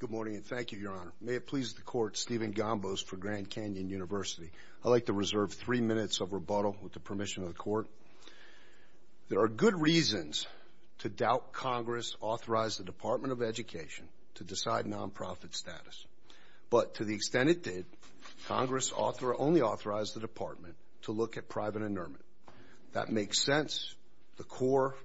Good morning and thank you, Your Honor. May it please the Court, Stephen Gombos for Grand Canyon University. I'd like to reserve three minutes of rebuttal with the permission of the Court. There are good reasons to doubt Congress authorized the Department of Education to decide non-profit status. But to the extent it did, Congress only authorized the Department to look at private inurement. That makes sense. The core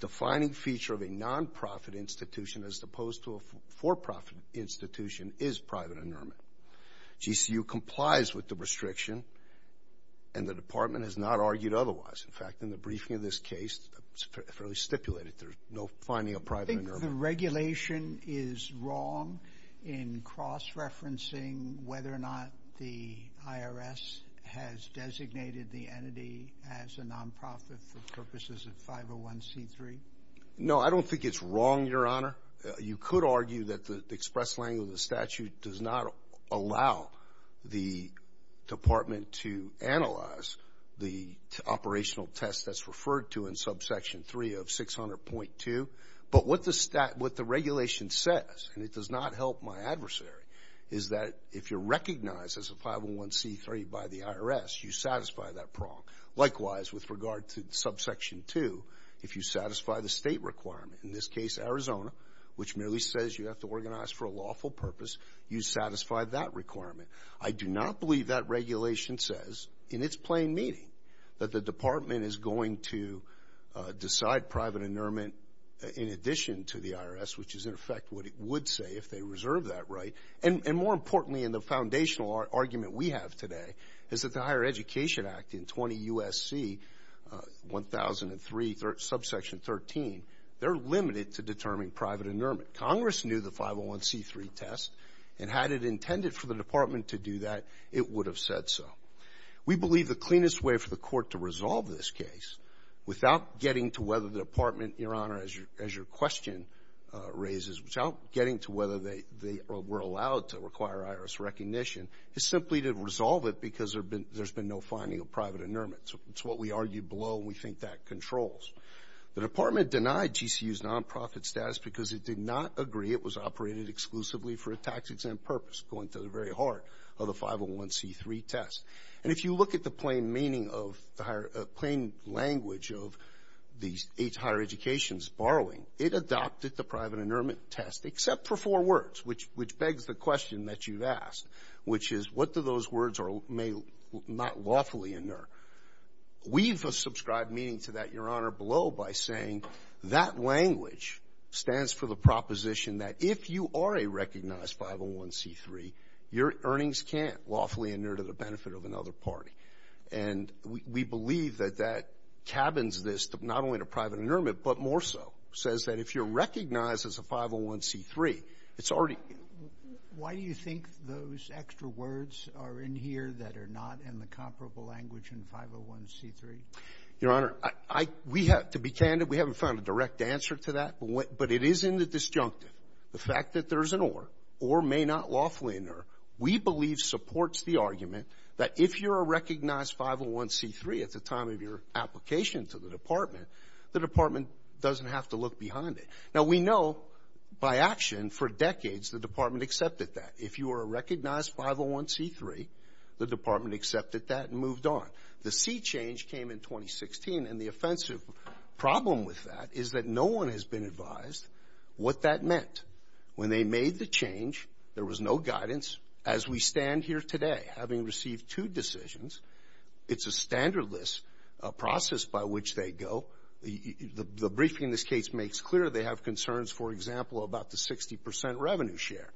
defining feature of a non-profit institution as opposed to a for-profit institution is private inurement. GCU complies with the restriction and the Department has not argued otherwise. In fact, in the briefing of this case, it's fairly stipulated there's no finding of private inurement. So the regulation is wrong in cross-referencing whether or not the IRS has designated the entity as a non-profit for purposes of 501c3? No, I don't think it's wrong, Your Honor. You could argue that the express language of the statute does not allow the Department to analyze the operational test that's referred to in subsection 3 of 600.2. But what the regulation says, and it does not help my adversary, is that if you're recognized as a 501c3 by the IRS, you satisfy that prong. Likewise, with regard to subsection 2, if you satisfy the state requirement, in this case Arizona, which merely says you have to organize for a lawful purpose, you satisfy that requirement. I do not believe that regulation says in its plain meaning that the Department is going to decide private inurement in addition to the IRS, which is, in effect, what it would say if they reserved that right. And more importantly in the foundational argument we have today is that the Higher Education Act in 20 U.S.C. 1003 subsection 13, they're limited to determining private inurement. Congress knew the 501c3 test, and had it intended for the Department to do that, it would have said so. We believe the cleanest way for the Court to resolve this case without getting to whether the Department, Your Honor, as your question raises, without getting to whether they were allowed to require IRS recognition, is simply to resolve it because there's been no finding of private inurement. It's what we argue below, and we think that controls. The Department denied GCU's nonprofit status because it did not agree it was operated exclusively for a tax-exempt purpose, going to the very heart of the 501c3 test. And if you look at the plain meaning of the higher – plain language of these eight higher educations borrowing, it adopted the private inurement test except for four words, which begs the question that you've asked, which is what do those words may not lawfully inure. We've subscribed meaning to that, Your Honor, below by saying that language stands for the proposition that if you are a recognized 501c3, your earnings can't lawfully inure to the benefit of another party. And we believe that that cabins this to not only to private inurement, but more so, says that if you're recognized as a 501c3, it's already – those extra words are in here that are not in the comparable language in 501c3? Your Honor, I – we have – to be candid, we haven't found a direct answer to that, but it is in the disjunctive, the fact that there's an or, or may not lawfully inure, we believe supports the argument that if you're a recognized 501c3 at the time of your application to the Department, the Department doesn't have to look behind it. Now, we know by action for decades the Department accepted that. If you are a recognized 501c3, the Department accepted that and moved on. The C change came in 2016, and the offensive problem with that is that no one has been advised what that meant. When they made the change, there was no guidance. As we stand here today, having received two decisions, it's a standard list process by which they go. The briefing in this case makes clear they have concerns, for example, about the 60 percent revenue share.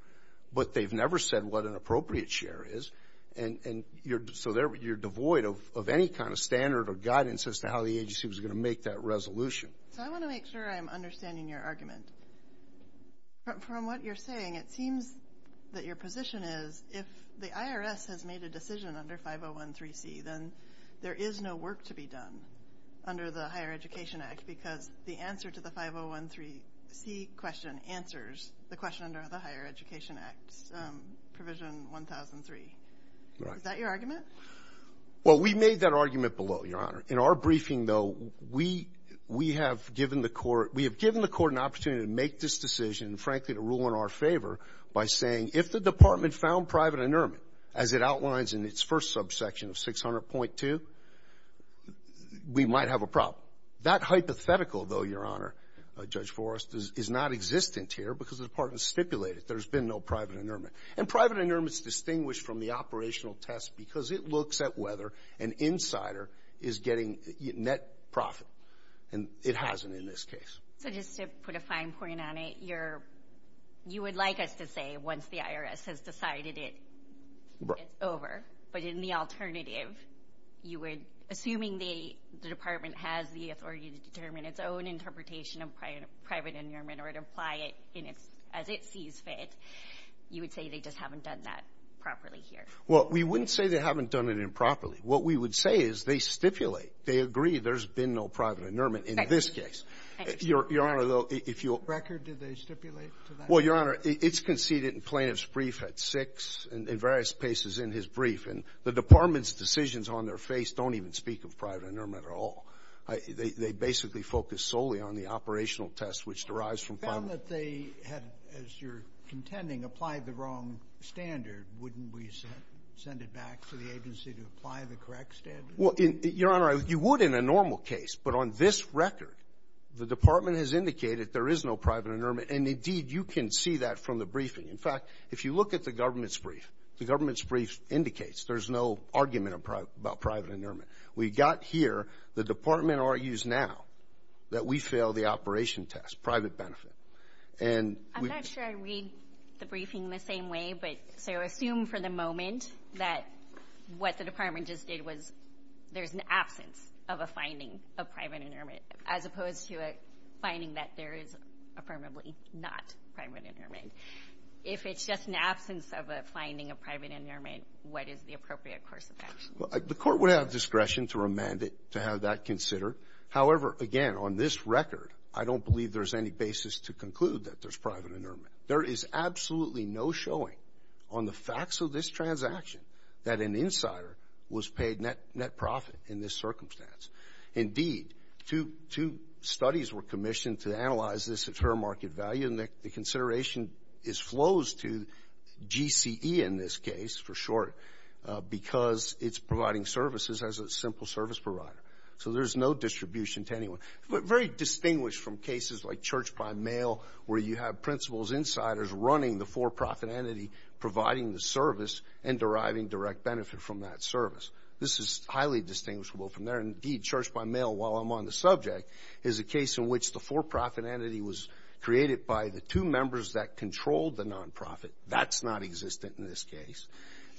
But they've never said what an appropriate share is, and so you're devoid of any kind of standard or guidance as to how the agency was going to make that resolution. So I want to make sure I'm understanding your argument. From what you're saying, it seems that your position is if the IRS has made a decision under 501c3, then there is no work to be done under the Higher Education Act, because the answer to the 501c3 question answers the question under the Higher Education Act, Provision 1003. Is that your argument? Well, we made that argument below, Your Honor. In our briefing, though, we have given the court an opportunity to make this decision, and frankly to rule in our favor by saying if the Department found private underment, as it outlines in its first subsection of 600.2, we might have a problem. That hypothetical, though, Your Honor, Judge Forrest, is not existent here because the Department stipulated there's been no private underment, and private underment is distinguished from the operational test because it looks at whether an insider is getting net profit, and it hasn't in this case. So just to put a fine point on it, you would like us to say once the IRS has decided it, it's over. But in the alternative, you would, assuming the Department has the authority to determine its own interpretation of private underment or to apply it as it sees fit, you would say they just haven't done that properly here. Well, we wouldn't say they haven't done it improperly. What we would say is they stipulate. They agree there's been no private underment in this case. Your Honor, though, if you'll ---- Brecker, did they stipulate to that? Well, Your Honor, it's conceded in Plaintiff's brief at 6 and in various places in his brief, and the Department's decisions on their face don't even speak of private underment at all. They basically focus solely on the operational test, which derives from private underment. If you found that they had, as you're contending, applied the wrong standard, wouldn't we send it back to the agency to apply the correct standard? Well, Your Honor, you would in a normal case. But on this record, the Department has indicated there is no private underment. And indeed, you can see that from the briefing. In fact, if you look at the government's brief, the government's brief indicates there's no argument about private underment. We got here. The Department argues now that we failed the operation test, private benefit. And we ---- I'm not sure I read the briefing the same way, but so assume for the moment that what the Department just did was there's an absence of a finding of private underment. If it's just an absence of a finding of private underment, what is the appropriate course of action? The Court would have discretion to remand it, to have that considered. However, again, on this record, I don't believe there's any basis to conclude that there's private underment. There is absolutely no showing on the facts of this transaction that an insider was paid net profit in this circumstance. Indeed, two studies were commissioned to analyze this at fair market value, and the consideration flows to GCE in this case, for short, because it's providing services as a simple service provider. So there's no distribution to anyone. Very distinguished from cases like Church by Mail, where you have principals, insiders running the for-profit entity, providing the service, and deriving direct benefit from that service. This is highly distinguishable from there. Indeed, Church by Mail, while I'm on the subject, is a case in which the for-profit entity was created by the two members that controlled the nonprofit. That's nonexistent in this case.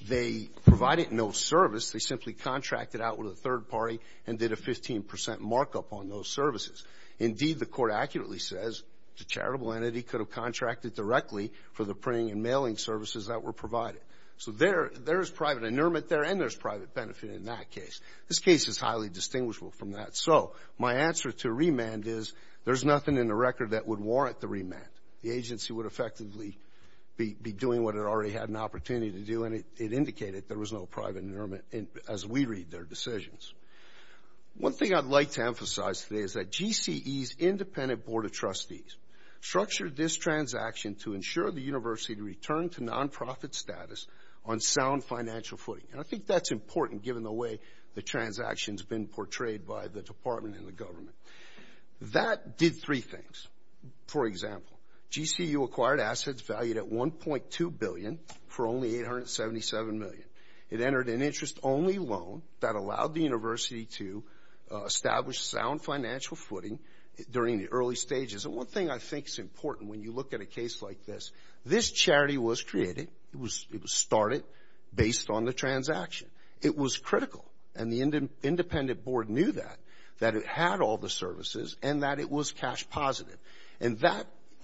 They provided no service. They simply contracted out with a third party and did a 15 percent markup on those services. Indeed, the Court accurately says the charitable entity could have contracted directly for the printing and mailing services that were provided. So there is private inurement there, and there's private benefit in that case. This case is highly distinguishable from that. So my answer to remand is there's nothing in the record that would warrant the remand. The agency would effectively be doing what it already had an opportunity to do, and it indicated there was no private inurement as we read their decisions. One thing I'd like to emphasize today is that GCE's independent board of trustees structured this transaction to ensure the university returned to nonprofit status on sound financial footing. And I think that's important given the way the transaction's been portrayed by the department and the government. That did three things. For example, GCU acquired assets valued at $1.2 billion for only $877 million. It entered an interest-only loan that allowed the university to establish sound financial footing during the early stages. And one thing I think is important when you look at a case like this, this charity was created, it was started based on the transaction. It was critical, and the independent board knew that, that it had all the services and that it was cash positive. And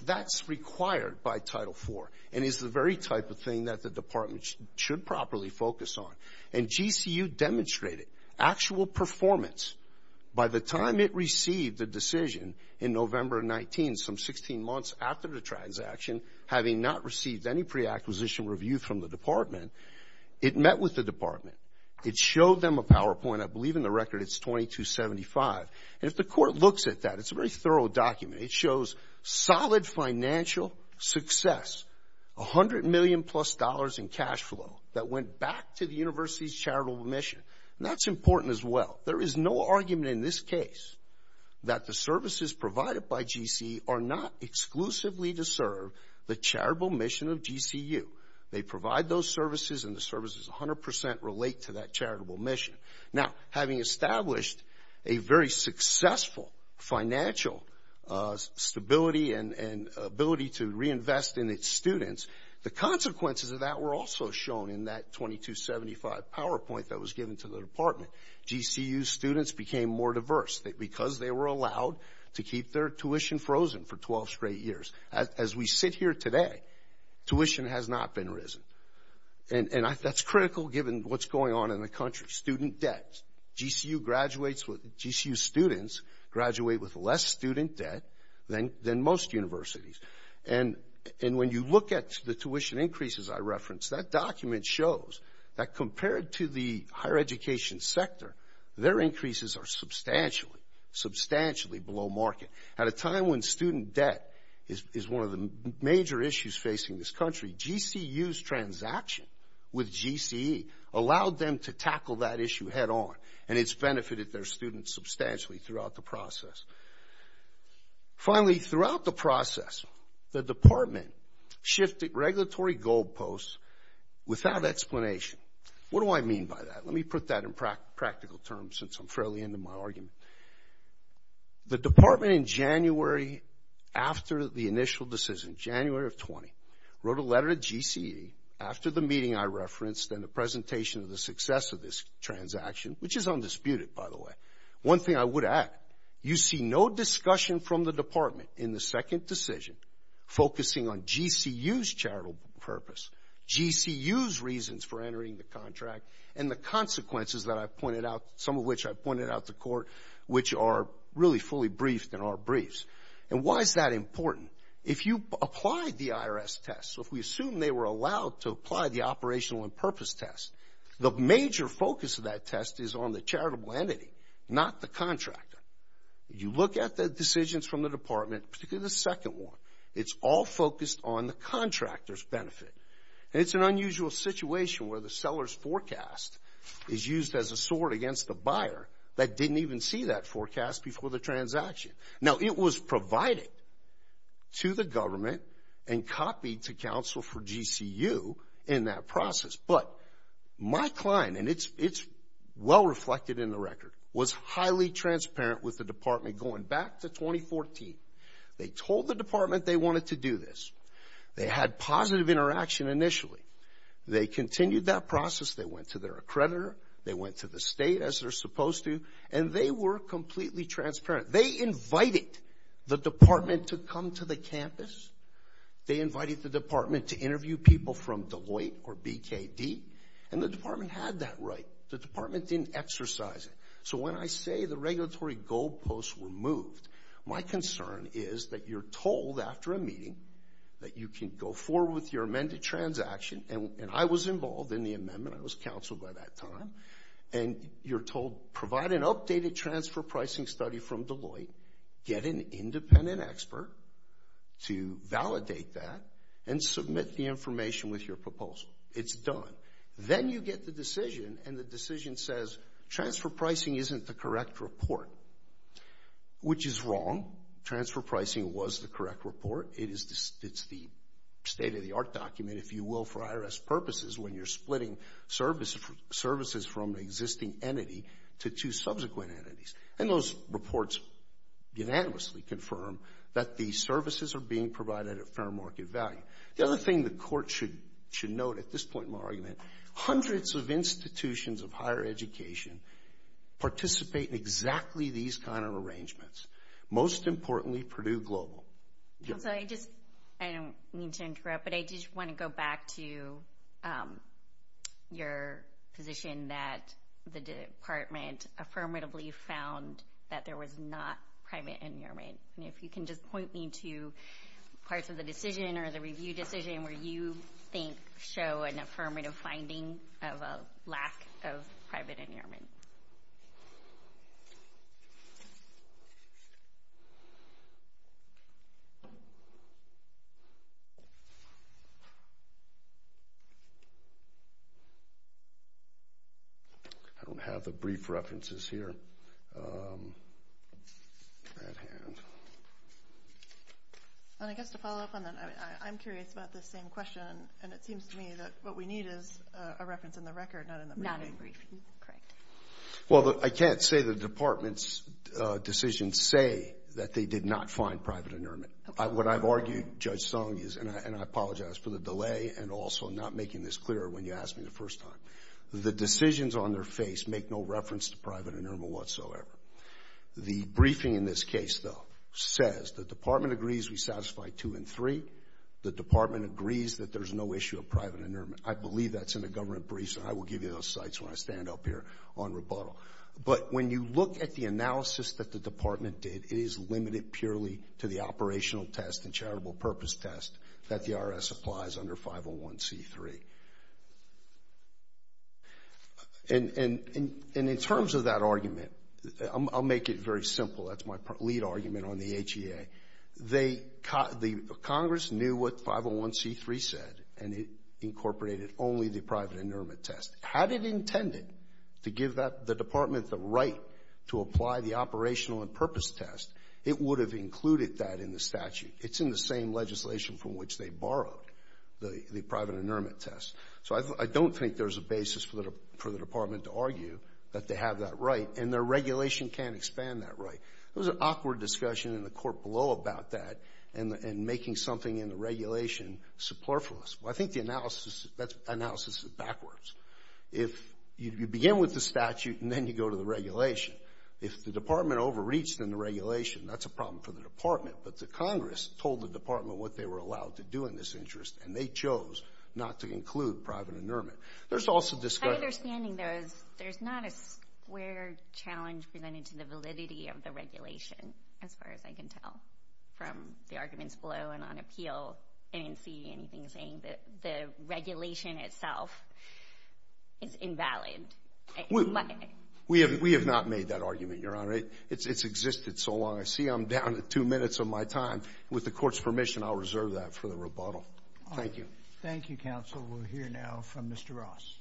that's required by Title IV and is the very type of thing that the department should properly focus on. And GCU demonstrated actual performance by the time it received the decision in November of 19, some 16 months after the transaction, having not received any pre-acquisition review from the department. It met with the department. It showed them a PowerPoint. I believe in the record it's 2275. And if the court looks at that, it's a very thorough document. It shows solid financial success, $100 million plus in cash flow that went back to the university's charitable mission. And that's important as well. There is no argument in this case that the services provided by GCU are not exclusively to serve the charitable mission of GCU. They provide those services and the services 100% relate to that charitable mission. Now, having established a very successful financial stability and ability to reinvest in its students, the consequences of that were also shown in that 2275 PowerPoint that was given to the department. GCU students became more diverse because they were allowed to keep their tuition frozen for 12 straight years. As we sit here today, tuition has not been risen. And that's critical given what's going on in the country, student debt. GCU graduates, GCU students graduate with less student debt than most universities. And when you look at the tuition increases I referenced, that document shows that in the higher education sector, their increases are substantially below market. At a time when student debt is one of the major issues facing this country, GCU's transaction with GCE allowed them to tackle that issue head on. And it's benefited their students substantially throughout the process. Finally, throughout the process, the department shifted regulatory goalposts without explanation. What do I mean by that? Let me put that in practical terms since I'm fairly into my argument. The department in January after the initial decision, January of 20, wrote a letter to GCE after the meeting I referenced and the presentation of the success of this transaction, which is undisputed, by the way. One thing I would add, you see no discussion from the department in the second decision focusing on GCU's charitable purpose, GCU's reasons for entering the contract, and the consequences that I pointed out, some of which I pointed out to court, which are really fully briefed in our briefs. And why is that important? If you apply the IRS test, so if we assume they were allowed to apply the operational and purpose test, the major focus of that test is on the charitable entity, not the contractor. You look at the decisions from the department, particularly the second one, it's all focused on the contractor's benefit. And it's an unusual situation where the seller's forecast is used as a sword against the buyer that didn't even see that forecast before the transaction. Now, it was provided to the government and copied to counsel for GCU in that process. But my client, and it's well reflected in the record, was highly transparent with the department going back to 2014. They told the department they wanted to do this. They had positive interaction initially. They continued that process. They went to their accreditor. They went to the state, as they're supposed to, and they were completely transparent. They invited the department to come to the campus. They invited the department to interview people from Deloitte or BKD, and the department had that right. The department didn't exercise it. So when I say the regulatory goalposts were moved, my concern is that you're told after a meeting that you can go forward with your amended transaction, and I was involved in the amendment. I was counsel by that time. And you're told provide an updated transfer pricing study from Deloitte, get an independent expert to validate that, and submit the information with your proposal. It's done. Then you get the decision, and the decision says transfer pricing isn't the correct report, which is wrong. Transfer pricing was the correct report. It's the state-of-the-art document, if you will, for IRS purposes, when you're splitting services from an existing entity to two subsequent entities. And those reports unanimously confirm that these services are being provided at fair market value. The other thing the court should note at this point in my argument, hundreds of institutions of higher education participate in exactly these kind of arrangements. Most importantly, Purdue Global. I'm sorry, I don't mean to interrupt, but I did want to go back to your position that the department affirmatively found that there was not private endearment. If you can just point me to parts of the decision or the review decision where you think show an affirmative finding of a lack of private endearment. I don't have the brief references here at hand. And I guess to follow up on that, I'm curious about this same question, and it seems to me that what we need is a reference in the record, not in the briefing. Not in the briefing, correct. Well, I can't say the department's decisions say that they did not find private endearment. What I've argued, Judge Song, and I apologize for the delay and also not making this clearer when you asked me the first time, the decisions on their face make no reference to private endearment whatsoever. The briefing in this case, though, says the department agrees we satisfy two and three. The department agrees that there's no issue of private endearment. I believe that's in the government briefs, and I will give you those sites when I stand up here on rebuttal. But when you look at the analysis that the department did, it is limited purely to the operational test and charitable purpose test that the IRS applies under 501c3. And in terms of that argument, I'll make it very simple. That's my lead argument on the HEA. The Congress knew what 501c3 said, and it incorporated only the private endearment test. Had it intended to give the department the right to apply the operational and purpose test, it would have included that in the statute. It's in the same legislation from which they borrowed the private endearment test. So I don't think there's a basis for the department to argue that they have that right, and their regulation can't expand that right. There was an awkward discussion in the court below about that and making something in the regulation superfluous. Well, I think the analysis is backwards. If you begin with the statute and then you go to the regulation, if the department overreached in the regulation, that's a problem for the department. But the Congress told the department what they were allowed to do in this interest, and they chose not to include private endearment. There's also discussion. My understanding, though, is there's not a square challenge presented to the validity of the regulation, as far as I can tell from the arguments below and on appeal. I didn't see anything saying that the regulation itself is invalid. We have not made that argument, Your Honor. It's existed so long. I see I'm down to two minutes of my time. With the court's permission, I'll reserve that for the rebuttal. Thank you. Thank you, counsel. We'll hear now from Mr. Ross.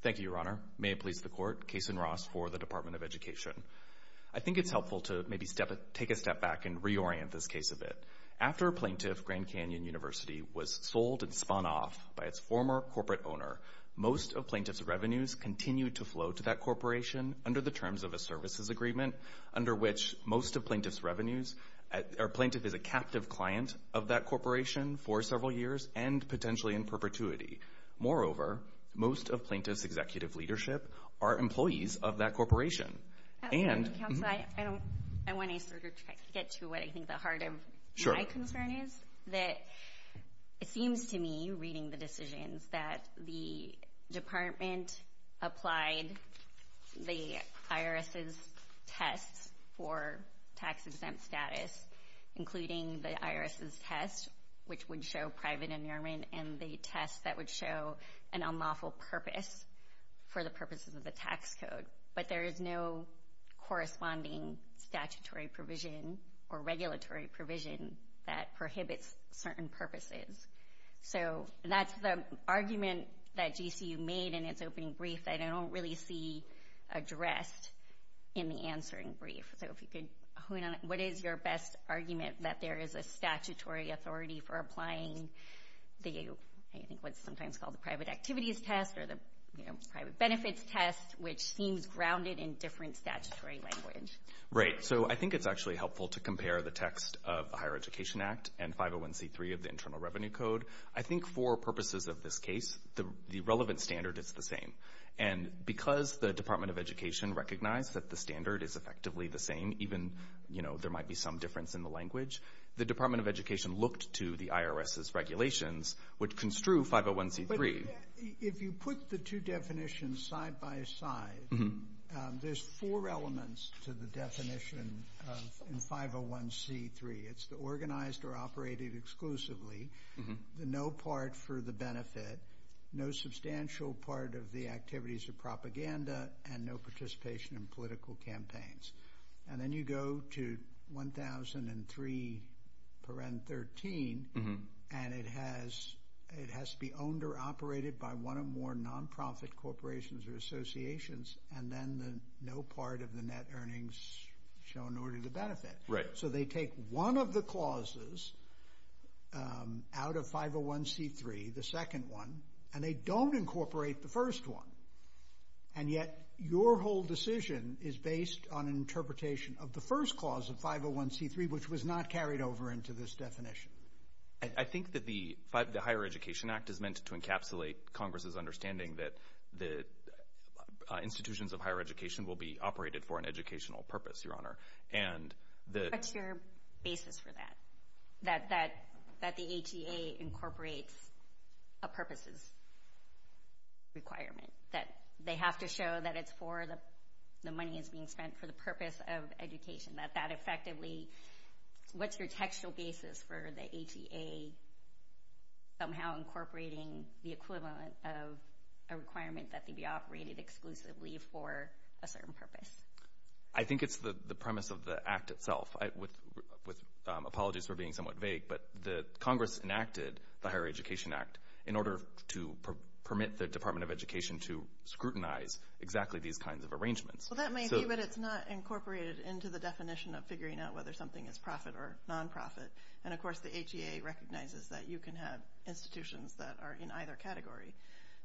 Thank you, Your Honor. May it please the court, Kason Ross for the Department of Education. I think it's helpful to maybe take a step back and reorient this case a bit. After Plaintiff Grand Canyon University was sold and spun off by its former corporate owner, most of Plaintiff's revenues continued to flow to that corporation under the terms of a services agreement, under which most of Plaintiff's revenues, or Plaintiff is a captive client of that corporation for several years and potentially in perpetuity. Moreover, most of Plaintiff's executive leadership are employees of that corporation. Counsel, I want to sort of get to what I think the heart of my concern is. It seems to me, reading the decisions, that the department applied the IRS's tests for tax-exempt status, including the IRS's test, which would show private annealment, and the test that would show an unlawful purpose for the purposes of the tax code. But there is no corresponding statutory provision or regulatory provision that prohibits certain purposes. So that's the argument that GCU made in its opening brief that I don't really see addressed in the answering brief. So if you could hone in on that. What is your best argument that there is a statutory authority for applying the, I think what's sometimes called the private activities test or the private benefits test, which seems grounded in different statutory language? Right. So I think it's actually helpful to compare the text of the Higher Education Act and 501c3 of the Internal Revenue Code. I think for purposes of this case, the relevant standard is the same. And because the Department of Education recognized that the standard is effectively the same, even, you know, there might be some difference in the language, the Department of Education looked to the IRS's regulations, which construe 501c3. If you put the two definitions side by side, there's four elements to the definition of 501c3. It's the organized or operated exclusively, the no part for the benefit, no substantial part of the activities of propaganda, and no participation in political campaigns. And then you go to 1003.13, and it has to be owned or operated by one or more nonprofit corporations or associations, and then the no part of the net earnings shown in order to benefit. Right. So they take one of the clauses out of 501c3, the second one, and they don't incorporate the first one. And yet your whole decision is based on an interpretation of the first clause of 501c3, which was not carried over into this definition. I think that the Higher Education Act is meant to encapsulate Congress's understanding that the institutions of higher education will be operated for an educational purpose, Your Honor. What's your basis for that, that the HEA incorporates a purposes requirement, that they have to show that it's for the money that's being spent for the purpose of education, that that effectively – what's your textual basis for the HEA somehow incorporating the equivalent of a requirement that they be operated exclusively for a certain purpose? I think it's the premise of the Act itself. Apologies for being somewhat vague, but Congress enacted the Higher Education Act in order to permit the Department of Education to scrutinize exactly these kinds of arrangements. Well, that may be, but it's not incorporated into the definition of figuring out whether something is profit or nonprofit. And, of course, the HEA recognizes that you can have institutions that are in either category.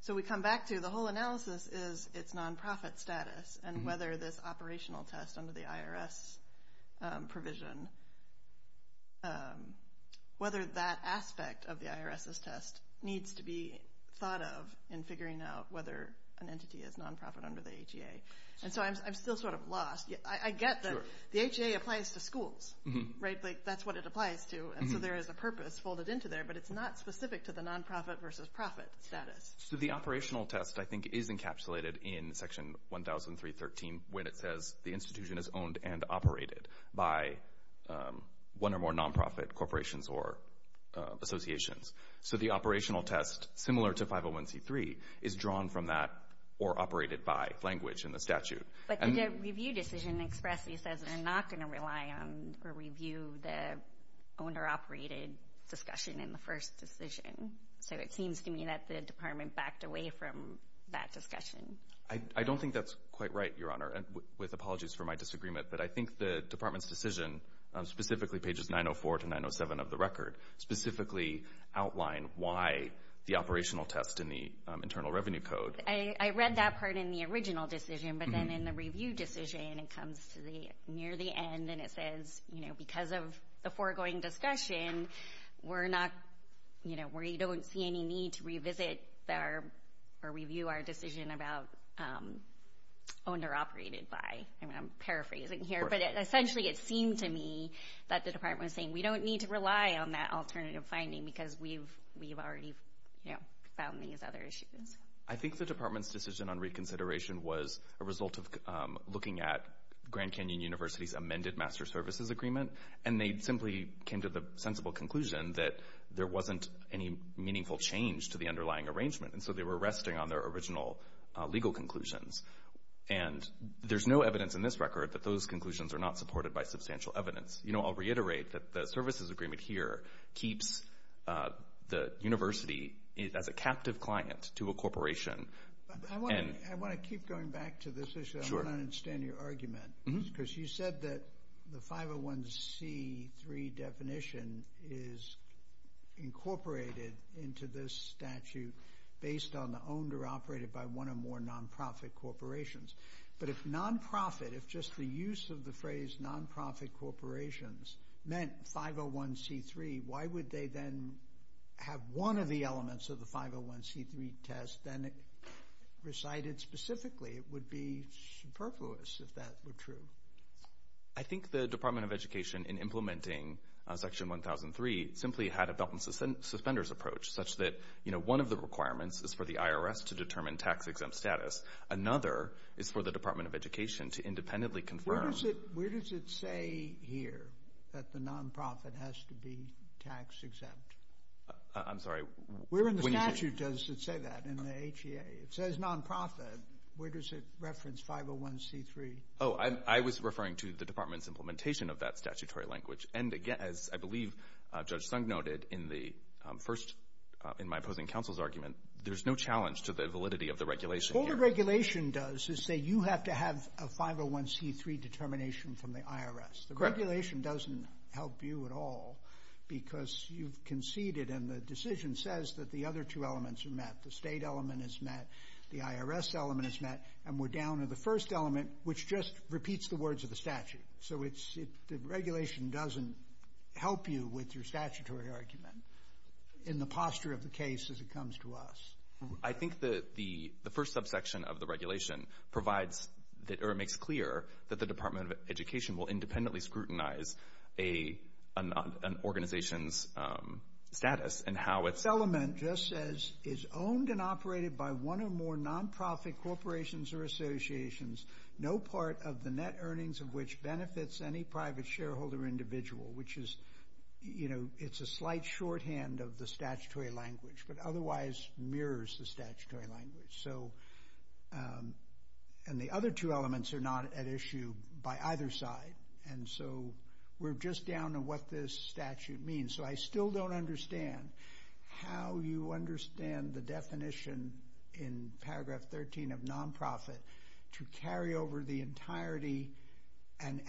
So we come back to the whole analysis is its nonprofit status, and whether this operational test under the IRS provision, whether that aspect of the IRS's test needs to be thought of in figuring out whether an entity is nonprofit under the HEA. And so I'm still sort of lost. I get that the HEA applies to schools, right? That's what it applies to, and so there is a purpose folded into there, but it's not specific to the nonprofit versus profit status. So the operational test, I think, is encapsulated in Section 1003.13 when it says the institution is owned and operated by one or more nonprofit corporations or associations. So the operational test, similar to 501c3, is drawn from that or operated by language in the statute. But the review decision expressly says they're not going to rely on or review the owned or operated discussion in the first decision. So it seems to me that the Department backed away from that discussion. I don't think that's quite right, Your Honor, with apologies for my disagreement. But I think the Department's decision, specifically pages 904 to 907 of the record, specifically outline why the operational test in the Internal Revenue Code. I read that part in the original decision, but then in the review decision it comes near the end and it says because of the foregoing discussion, we don't see any need to revisit or review our decision about owned or operated by. I'm paraphrasing here, but essentially it seemed to me that the Department was saying we don't need to rely on that alternative finding because we've already found these other issues. I think the Department's decision on reconsideration was a result of looking at Grand Canyon University's amended Master Services Agreement, and they simply came to the sensible conclusion that there wasn't any meaningful change to the underlying arrangement, and so they were resting on their original legal conclusions. And there's no evidence in this record that those conclusions are not supported by substantial evidence. I'll reiterate that the services agreement here keeps the university as a captive client to a corporation. I want to keep going back to this issue. I don't understand your argument because you said that the 501c3 definition is incorporated into this statute based on the owned or operated by one or more nonprofit corporations. But if nonprofit, if just the use of the phrase nonprofit corporations meant 501c3, why would they then have one of the elements of the 501c3 test then recited specifically? It would be superfluous if that were true. I think the Department of Education, in implementing Section 1003, simply had a belt and suspenders approach such that, you know, one of the requirements is for the IRS to determine tax-exempt status. Another is for the Department of Education to independently confirm. Where does it say here that the nonprofit has to be tax-exempt? I'm sorry. Where in the statute does it say that, in the HEA? It says nonprofit. Where does it reference 501c3? Oh, I was referring to the Department's implementation of that statutory language. And, again, as I believe Judge Sung noted in my opposing counsel's argument, there's no challenge to the validity of the regulation here. All the regulation does is say you have to have a 501c3 determination from the IRS. The regulation doesn't help you at all because you've conceded, and the decision says that the other two elements are met. The state element is met. The IRS element is met. And we're down to the first element, which just repeats the words of the statute. So the regulation doesn't help you with your statutory argument in the posture of the case as it comes to us. I think the first subsection of the regulation provides or makes clear that the Department of Education will independently scrutinize an organization's status and how it's— This element just says, is owned and operated by one or more nonprofit corporations or associations, no part of the net earnings of which benefits any private shareholder individual, which is, you know, it's a slight shorthand of the statutory language, but otherwise mirrors the statutory language. And the other two elements are not at issue by either side. And so we're just down to what this statute means. So I still don't understand how you understand the definition in paragraph 13 of nonprofit to carry over the entirety and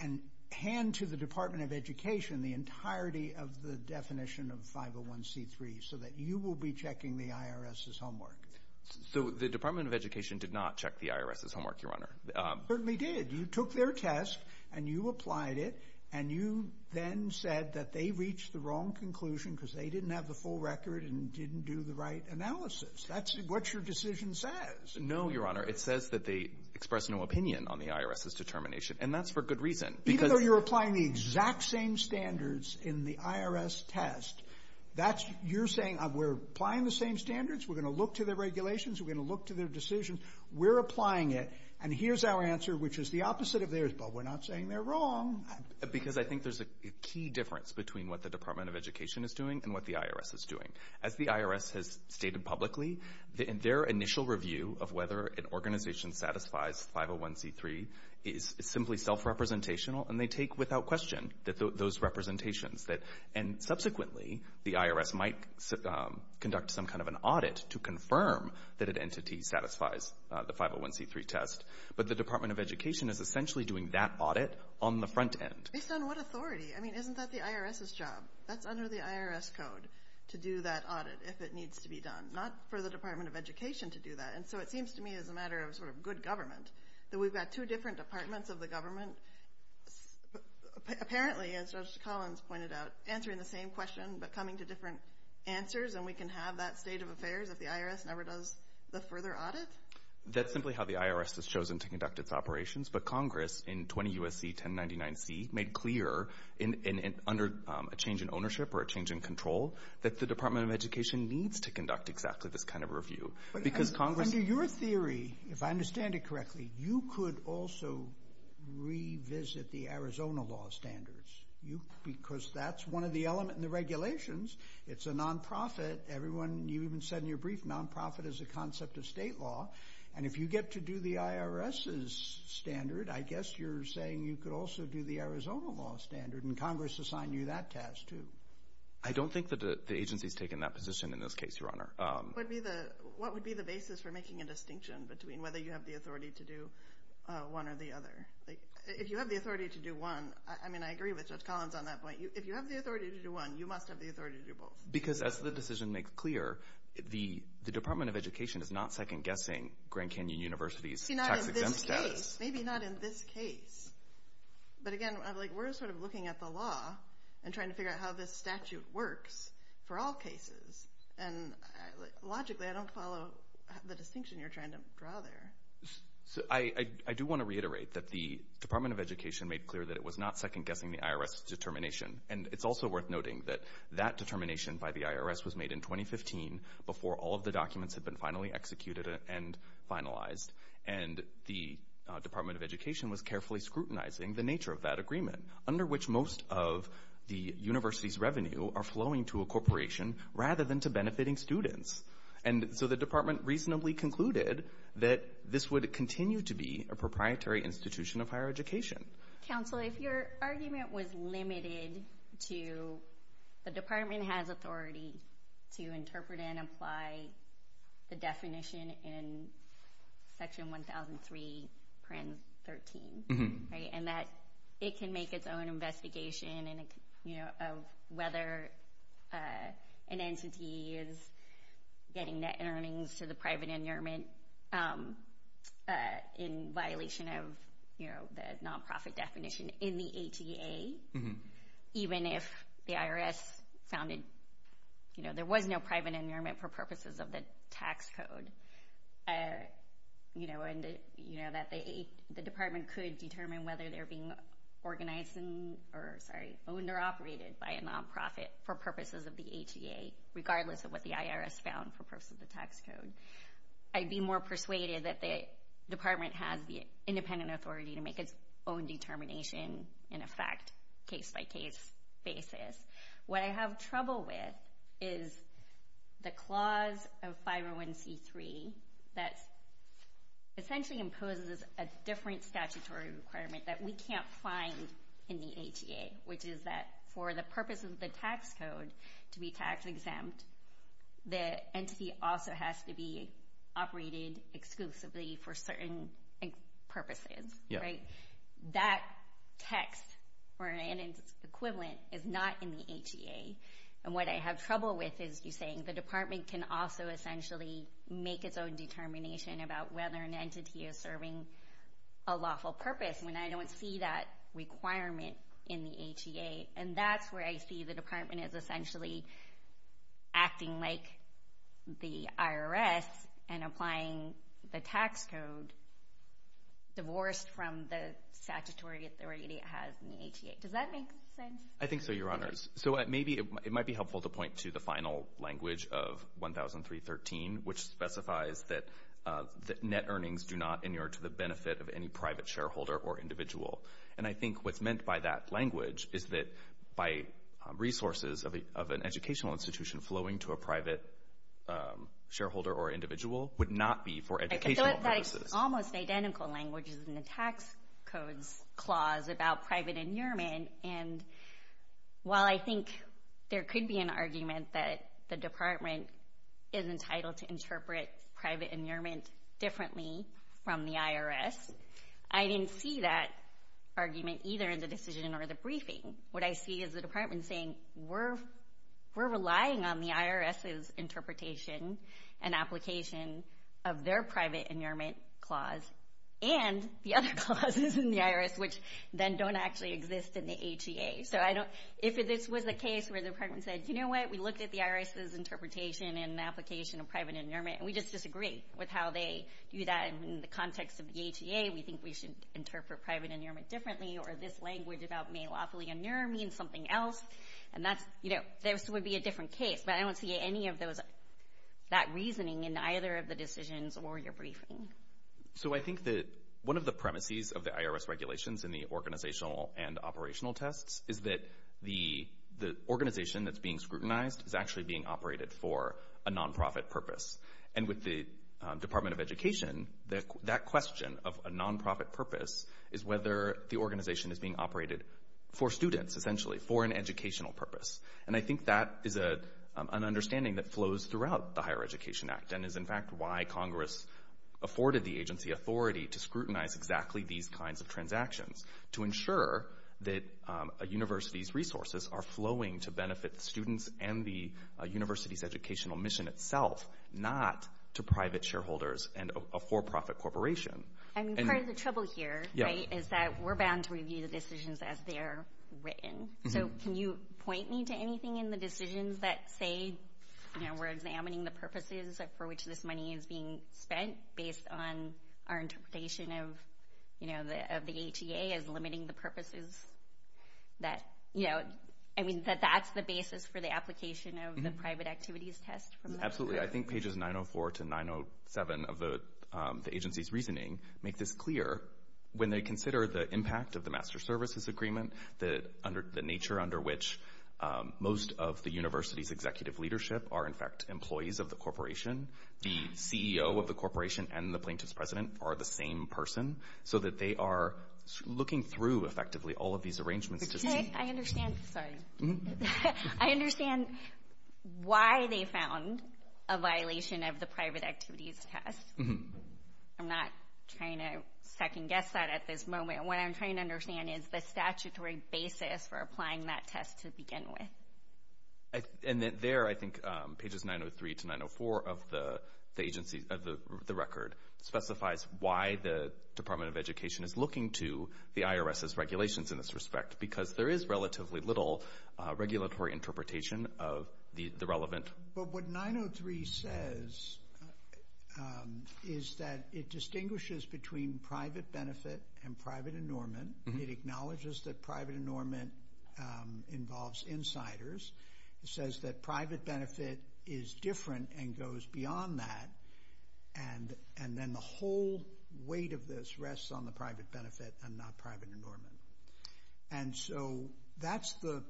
hand to the Department of Education the entirety of the definition of 501c3 so that you will be checking the IRS's homework. So the Department of Education did not check the IRS's homework, Your Honor. Certainly did. You took their test, and you applied it, and you then said that they reached the wrong conclusion because they didn't have the full record and didn't do the right analysis. That's what your decision says. No, Your Honor. It says that they expressed no opinion on the IRS's determination, and that's for good reason. Even though you're applying the exact same standards in the IRS test, you're saying we're applying the same standards, we're going to look to their regulations, we're going to look to their decisions, we're applying it, and here's our answer, which is the opposite of theirs, but we're not saying they're wrong. Because I think there's a key difference between what the Department of Education is doing and what the IRS is doing. As the IRS has stated publicly, their initial review of whether an organization satisfies 501c3 is simply self-representational, and they take without question those representations. And subsequently, the IRS might conduct some kind of an audit to confirm that an entity satisfies the 501c3 test, but the Department of Education is essentially doing that audit on the front end. Based on what authority? I mean, isn't that the IRS's job? That's under the IRS code to do that audit if it needs to be done, not for the Department of Education to do that. And so it seems to me as a matter of sort of good government that we've got two different departments of the government, apparently, as Judge Collins pointed out, answering the same question but coming to different answers, and we can have that state of affairs if the IRS never does the further audit? That's simply how the IRS has chosen to conduct its operations. But Congress, in 20 U.S.C. 1099c, made clear under a change in ownership or a change in control that the Department of Education needs to conduct exactly this kind of review. Under your theory, if I understand it correctly, you could also revisit the Arizona law standards because that's one of the elements in the regulations. It's a nonprofit. You even said in your brief nonprofit is a concept of state law. And if you get to do the IRS's standard, I guess you're saying you could also do the Arizona law standard, and Congress assigned you that task too. I don't think that the agency's taken that position in this case, Your Honor. What would be the basis for making a distinction between whether you have the authority to do one or the other? If you have the authority to do one, I mean, I agree with Judge Collins on that point. If you have the authority to do one, you must have the authority to do both. Because as the decision makes clear, the Department of Education is not second-guessing Grand Canyon University's tax-exempt status. Maybe not in this case. But again, we're sort of looking at the law and trying to figure out how this statute works for all cases. And logically, I don't follow the distinction you're trying to draw there. I do want to reiterate that the Department of Education made clear that it was not second-guessing the IRS's determination. And it's also worth noting that that determination by the IRS was made in 2015 before all of the documents had been finally executed and finalized. And the Department of Education was carefully scrutinizing the nature of that agreement, under which most of the university's revenue are flowing to a corporation rather than to benefiting students. And so the department reasonably concluded that this would continue to be a proprietary institution of higher education. Counsel, if your argument was limited to the department has authority to interpret and apply the definition in Section 1003, Print 13, and that it can make its own investigation of whether an entity is getting net earnings to the private endearment in violation of the non-profit definition in the HEA, even if the IRS found there was no private endearment for purposes of the tax code, that the department could determine whether they're being owned or operated by a non-profit for purposes of the HEA, regardless of what the IRS found for purposes of the tax code, I'd be more persuaded that the department has the independent authority to make its own determination and effect case-by-case basis. What I have trouble with is the clause of 501c3 that essentially imposes a different statutory requirement that we can't find in the HEA, which is that for the purpose of the tax code to be tax exempt, the entity also has to be operated exclusively for certain purposes. That text or an equivalent is not in the HEA. And what I have trouble with is you saying the department can also essentially make its own determination about whether an entity is serving a lawful purpose when I don't see that requirement in the HEA, and that's where I see the department is essentially acting like the IRS and applying the tax code divorced from the statutory authority it has in the HEA. Does that make sense? I think so, Your Honors. So it might be helpful to point to the final language of 1003.13, which specifies that net earnings do not inure to the benefit of any private shareholder or individual. And I think what's meant by that language is that by resources of an educational institution flowing to a private shareholder or individual would not be for educational purposes. I feel like that is almost identical languages in the tax codes clause about private inurement. And while I think there could be an argument that the department is entitled to interpret private inurement differently from the IRS, I didn't see that argument either in the decision or the briefing. What I see is the department saying we're relying on the IRS's interpretation and application of their private inurement clause and the other clauses in the IRS, which then don't actually exist in the HEA. So if this was the case where the department said, you know what, we looked at the IRS's interpretation and application of private inurement and we just disagree with how they do that in the context of the HEA, we think we should interpret private inurement differently, or this language about may lawfully inure means something else, this would be a different case. But I don't see any of that reasoning in either of the decisions or your briefing. So I think that one of the premises of the IRS regulations in the organizational and operational tests is that the organization that's being scrutinized is actually being operated for a nonprofit purpose. And with the Department of Education, that question of a nonprofit purpose is whether the organization is being operated for students, essentially, for an educational purpose. And I think that is an understanding that flows throughout the Higher Education Act and is, in fact, why Congress afforded the agency authority to scrutinize exactly these kinds of transactions, to ensure that a university's resources are flowing to benefit students and the university's educational mission itself, not to private shareholders and a for-profit corporation. And part of the trouble here is that we're bound to review the decisions as they're written. So can you point me to anything in the decisions that say, you know, we're examining the purposes for which this money is being spent based on our interpretation of the HEA as limiting the purposes that, you know, I mean, that that's the basis for the application of the private activities test? Absolutely. I think pages 904 to 907 of the agency's reasoning make this clear. When they consider the impact of the Master Services Agreement, the nature under which most of the university's executive leadership are, in fact, employees of the corporation, the CEO of the corporation and the plaintiff's president are the same person, so that they are looking through, effectively, all of these arrangements. I understand why they found a violation of the private activities test. I'm not trying to second-guess that at this moment. What I'm trying to understand is the statutory basis for applying that test to begin with. And there, I think, pages 903 to 904 of the agency, of the record, specifies why the Department of Education is looking to the IRS's regulations in this respect, because there is relatively little regulatory interpretation of the relevant. But what 903 says is that it distinguishes between private benefit and private enormoument. It acknowledges that private enormoument involves insiders. It says that private benefit is different and goes beyond that. And then the whole weight of this rests on the private benefit and not private enormoument. And so that's the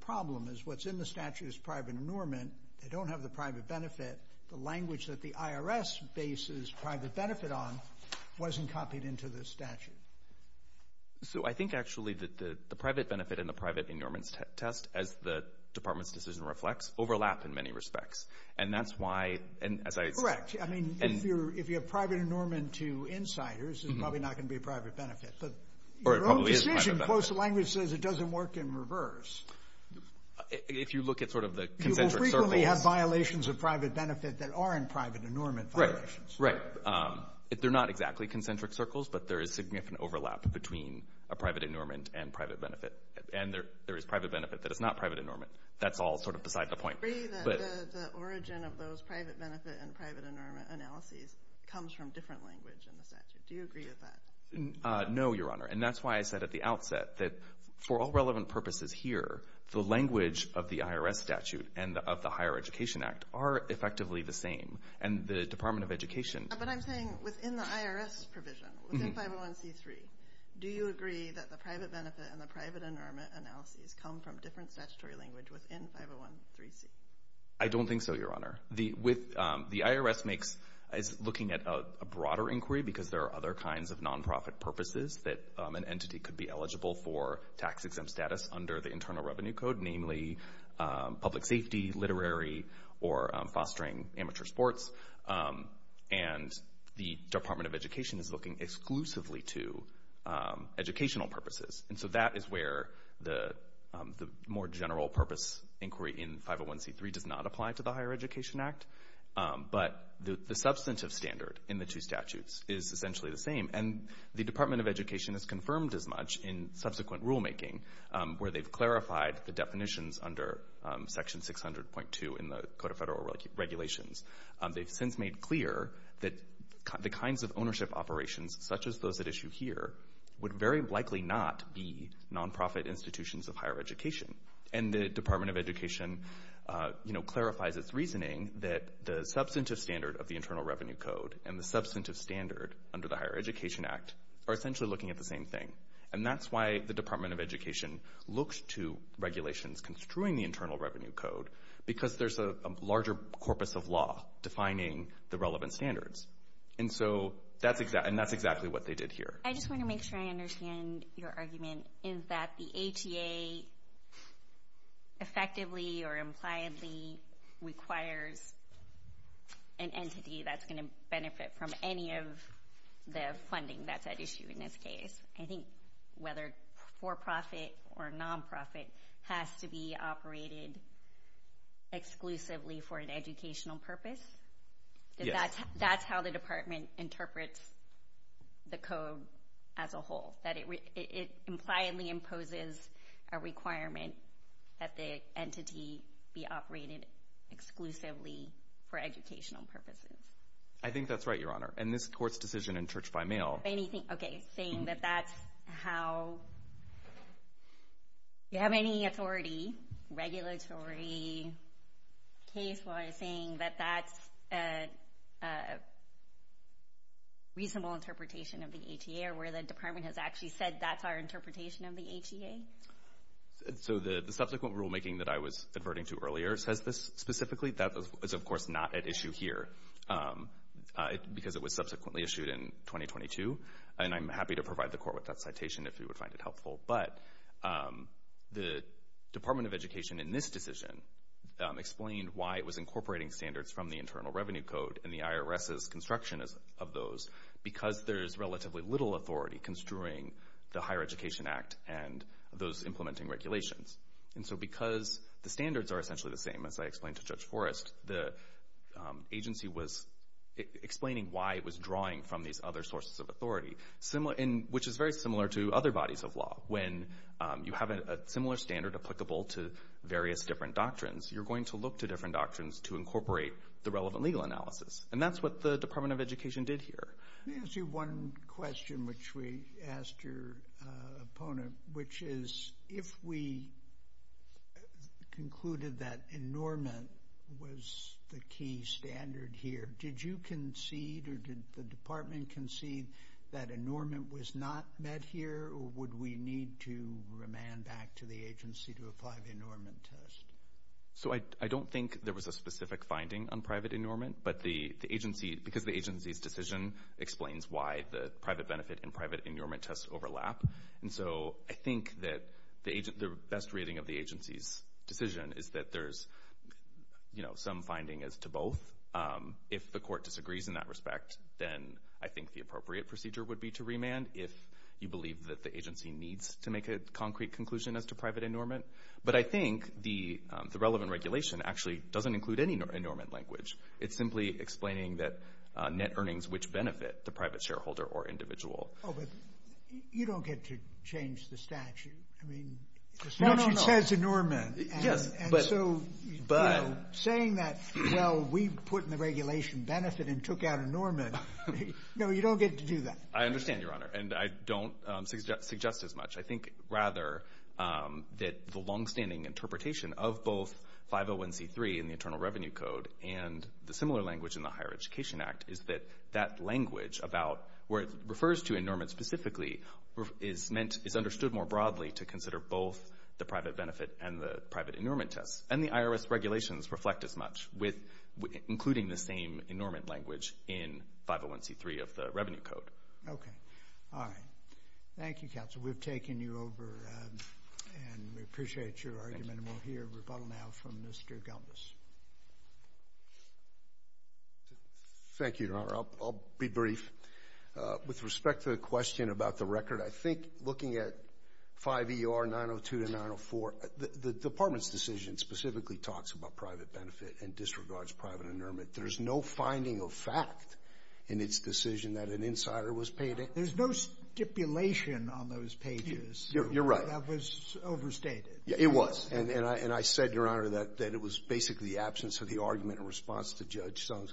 problem, is what's in the statute is private enormoument. They don't have the private benefit. The language that the IRS bases private benefit on wasn't copied into the statute. So I think, actually, that the private benefit and the private enormoument test, as the Department's decision reflects, overlap in many respects. And that's why, as I said— Correct. I mean, if you have private enormoument to insiders, it's probably not going to be a private benefit. But your own decision— Or it probably is a private benefit. Close to language says it doesn't work in reverse. If you look at sort of the concentric circles— You will frequently have violations of private benefit that aren't private enormoument violations. Right, right. They're not exactly concentric circles, but there is significant overlap between a private enormoument and private benefit. And there is private benefit that is not private enormoument. That's all sort of beside the point. The origin of those private benefit and private enormoument analyses comes from different language in the statute. Do you agree with that? No, Your Honor. And that's why I said at the outset that, for all relevant purposes here, the language of the IRS statute and of the Higher Education Act are effectively the same. And the Department of Education— But I'm saying within the IRS provision, within 501c3, do you agree that the private benefit and the private enormoument analyses come from different statutory language within 501c3? I don't think so, Your Honor. The IRS is looking at a broader inquiry because there are other kinds of nonprofit purposes that an entity could be eligible for tax-exempt status under the Internal Revenue Code, namely public safety, literary, or fostering amateur sports. And the Department of Education is looking exclusively to educational purposes. And so that is where the more general-purpose inquiry in 501c3 does not apply to the Higher Education Act. But the substantive standard in the two statutes is essentially the same. And the Department of Education has confirmed as much in subsequent rulemaking where they've clarified the definitions under Section 600.2 in the Code of Federal Regulations. They've since made clear that the kinds of ownership operations, such as those at issue here, would very likely not be nonprofit institutions of higher education. And the Department of Education clarifies its reasoning that the substantive standard of the Internal Revenue Code and the substantive standard under the Higher Education Act are essentially looking at the same thing. And that's why the Department of Education looks to regulations construing the Internal Revenue Code because there's a larger corpus of law defining the relevant standards. And that's exactly what they did here. I just want to make sure I understand your argument. Is that the HEA effectively or impliedly requires an entity that's going to benefit from any of the funding that's at issue in this case? I think whether for-profit or nonprofit has to be operated exclusively for an educational purpose? Yes. That's how the department interprets the code as a whole, that it impliedly imposes a requirement that the entity be operated exclusively for educational purposes. I think that's right, Your Honor. And this court's decision in church by mail— Okay, saying that that's how— Do you have any authority, regulatory, case-wise, saying that that's a reasonable interpretation of the HEA or where the department has actually said that's our interpretation of the HEA? So the subsequent rulemaking that I was adverting to earlier says this specifically. That is, of course, not at issue here because it was subsequently issued in 2022. And I'm happy to provide the court with that citation if you would find it helpful. But the Department of Education in this decision explained why it was incorporating standards from the Internal Revenue Code and the IRS's construction of those because there's relatively little authority construing the Higher Education Act and those implementing regulations. And so because the standards are essentially the same, as I explained to Judge Forrest, the agency was explaining why it was drawing from these other sources of authority, which is very similar to other bodies of law. When you have a similar standard applicable to various different doctrines, you're going to look to different doctrines to incorporate the relevant legal analysis. And that's what the Department of Education did here. Let me ask you one question, which we asked your opponent, which is if we concluded that enormous was the key standard here, did you concede or did the department concede that enormous was not met here or would we need to remand back to the agency to apply the enormous test? So I don't think there was a specific finding on private enormous, but because the agency's decision explains why the private benefit and private enormous tests overlap. And so I think that the best rating of the agency's decision is that there's some finding as to both. If the court disagrees in that respect, then I think the appropriate procedure would be to remand if you believe that the agency needs to make a concrete conclusion as to private enormous. But I think the relevant regulation actually doesn't include any enormous language. It's simply explaining that net earnings which benefit the private shareholder or individual. Oh, but you don't get to change the statute. I mean, the statute says enormous. And so saying that, well, we put in the regulation benefit and took out enormous, no, you don't get to do that. I understand, Your Honor, and I don't suggest as much. I think rather that the longstanding interpretation of both 501C3 in the Internal Revenue Code and the similar language in the Higher Education Act is that that language about where it refers to enormous specifically is understood more broadly to consider both the private benefit and the private enormous test. And the IRS regulations reflect as much, including the same enormous language in 501C3 of the Revenue Code. Okay. All right. Thank you, counsel. We've taken you over, and we appreciate your argument, and we'll hear rebuttal now from Mr. Gumbis. Thank you, Your Honor. I'll be brief. With respect to the question about the record, I think looking at 5ER 902 to 904, the Department's decision specifically talks about private benefit and disregards private enormous. There's no finding of fact in its decision that an insider was paid in. There's no stipulation on those pages. You're right. That was overstated. Yeah, it was. And I said, Your Honor, that it was basically the absence of the argument in response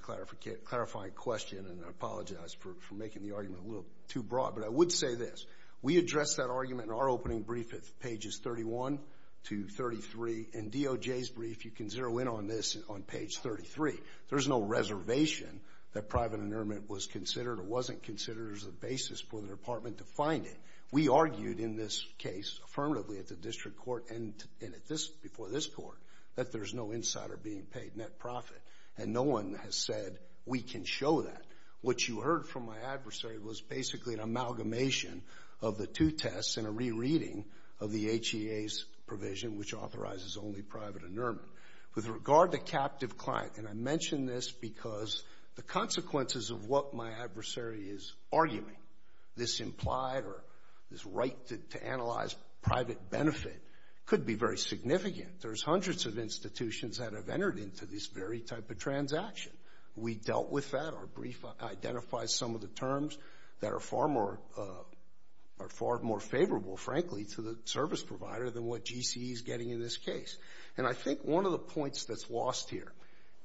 clarifying question, and I apologize for making the argument a little too broad. But I would say this. We addressed that argument in our opening brief at pages 31 to 33. In DOJ's brief, you can zero in on this on page 33. There's no reservation that private enormous was considered or wasn't considered as a basis for the Department to find it. We argued in this case affirmatively at the district court and before this court that there's no insider being paid net profit. And no one has said we can show that. What you heard from my adversary was basically an amalgamation of the two tests and a rereading of the HEA's provision, which authorizes only private enormous. With regard to captive client, and I mention this because the consequences of what my adversary is arguing, this implied or this right to analyze private benefit could be very significant. There's hundreds of institutions that have entered into this very type of transaction. We dealt with that. Our brief identifies some of the terms that are far more favorable, frankly, to the service provider than what GCE is getting in this case. And I think one of the points that's lost here,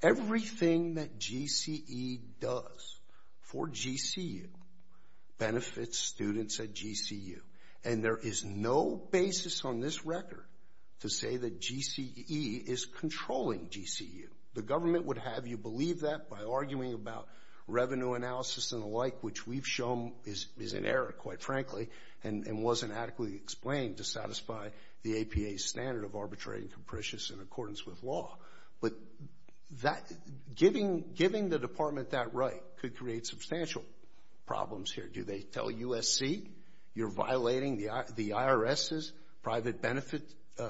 everything that GCE does for GCU benefits students at GCU. And there is no basis on this record to say that GCE is controlling GCU. The government would have you believe that by arguing about revenue analysis and the like, which we've shown is an error, quite frankly, and wasn't adequately explained to satisfy the APA's standard of arbitrary and capricious in accordance with law. But giving the Department that right could create substantial problems here. Do they tell USC you're violating the IRS's private benefit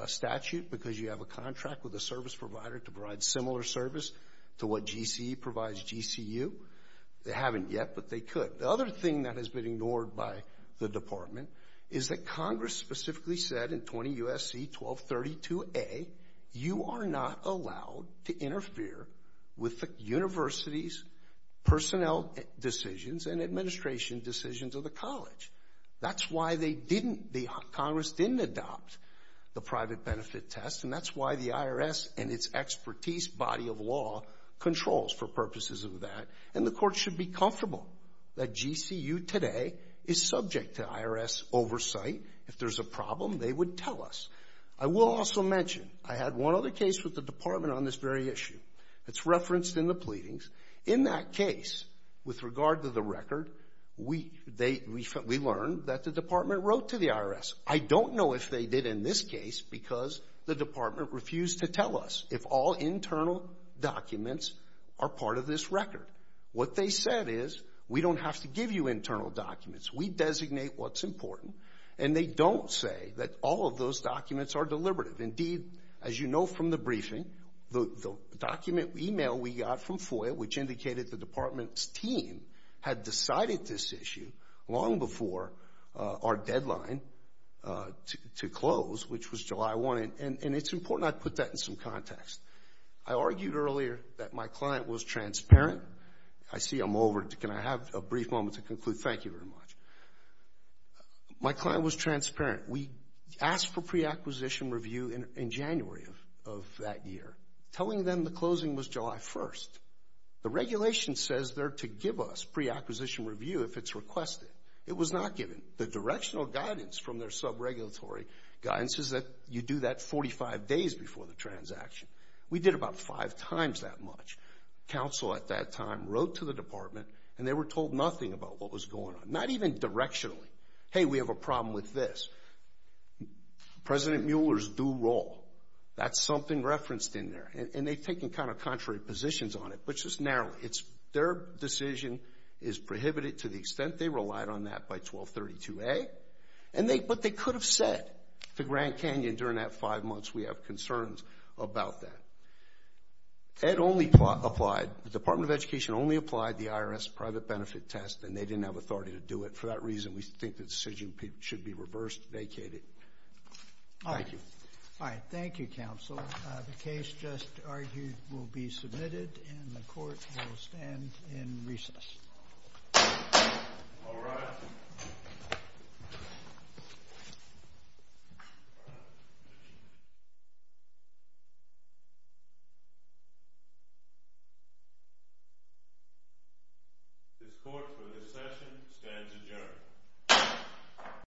statute because you have a contract with a service provider to provide similar service to what GCE provides GCU? They haven't yet, but they could. The other thing that has been ignored by the Department is that Congress specifically said in 20 U.S.C. 1232a, you are not allowed to interfere with the university's personnel decisions and administration decisions of the college. That's why Congress didn't adopt the private benefit test, and that's why the IRS and its expertise body of law controls for purposes of that. And the court should be comfortable that GCU today is subject to IRS oversight. If there's a problem, they would tell us. I will also mention I had one other case with the Department on this very issue. It's referenced in the pleadings. In that case, with regard to the record, we learned that the Department wrote to the IRS. I don't know if they did in this case because the Department refused to tell us if all internal documents are part of this record. What they said is we don't have to give you internal documents. We designate what's important, and they don't say that all of those documents are deliberative. Indeed, as you know from the briefing, the document email we got from FOIA, which indicated the Department's team had decided this issue long before our deadline to close, which was July 1, and it's important I put that in some context. I argued earlier that my client was transparent. I see I'm over. Can I have a brief moment to conclude? Thank you very much. My client was transparent. We asked for preacquisition review in January of that year. Telling them the closing was July 1. The regulation says they're to give us preacquisition review if it's requested. It was not given. The directional guidance from their subregulatory guidance is that you do that 45 days before the transaction. We did about five times that much. Counsel at that time wrote to the Department, and they were told nothing about what was going on, not even directionally. Hey, we have a problem with this. President Mueller's due role, that's something referenced in there, and they've taken kind of contrary positions on it, but just narrowly. Their decision is prohibited to the extent they relied on that by 1232A, but they could have said to Grand Canyon during that five months, we have concerns about that. The Department of Education only applied the IRS private benefit test, and they didn't have authority to do it. For that reason, we think the decision should be reversed, vacated. Thank you. All right. Thank you, counsel. The case just argued will be submitted, and the court will stand in recess. All rise. This court, for this session, stands adjourned.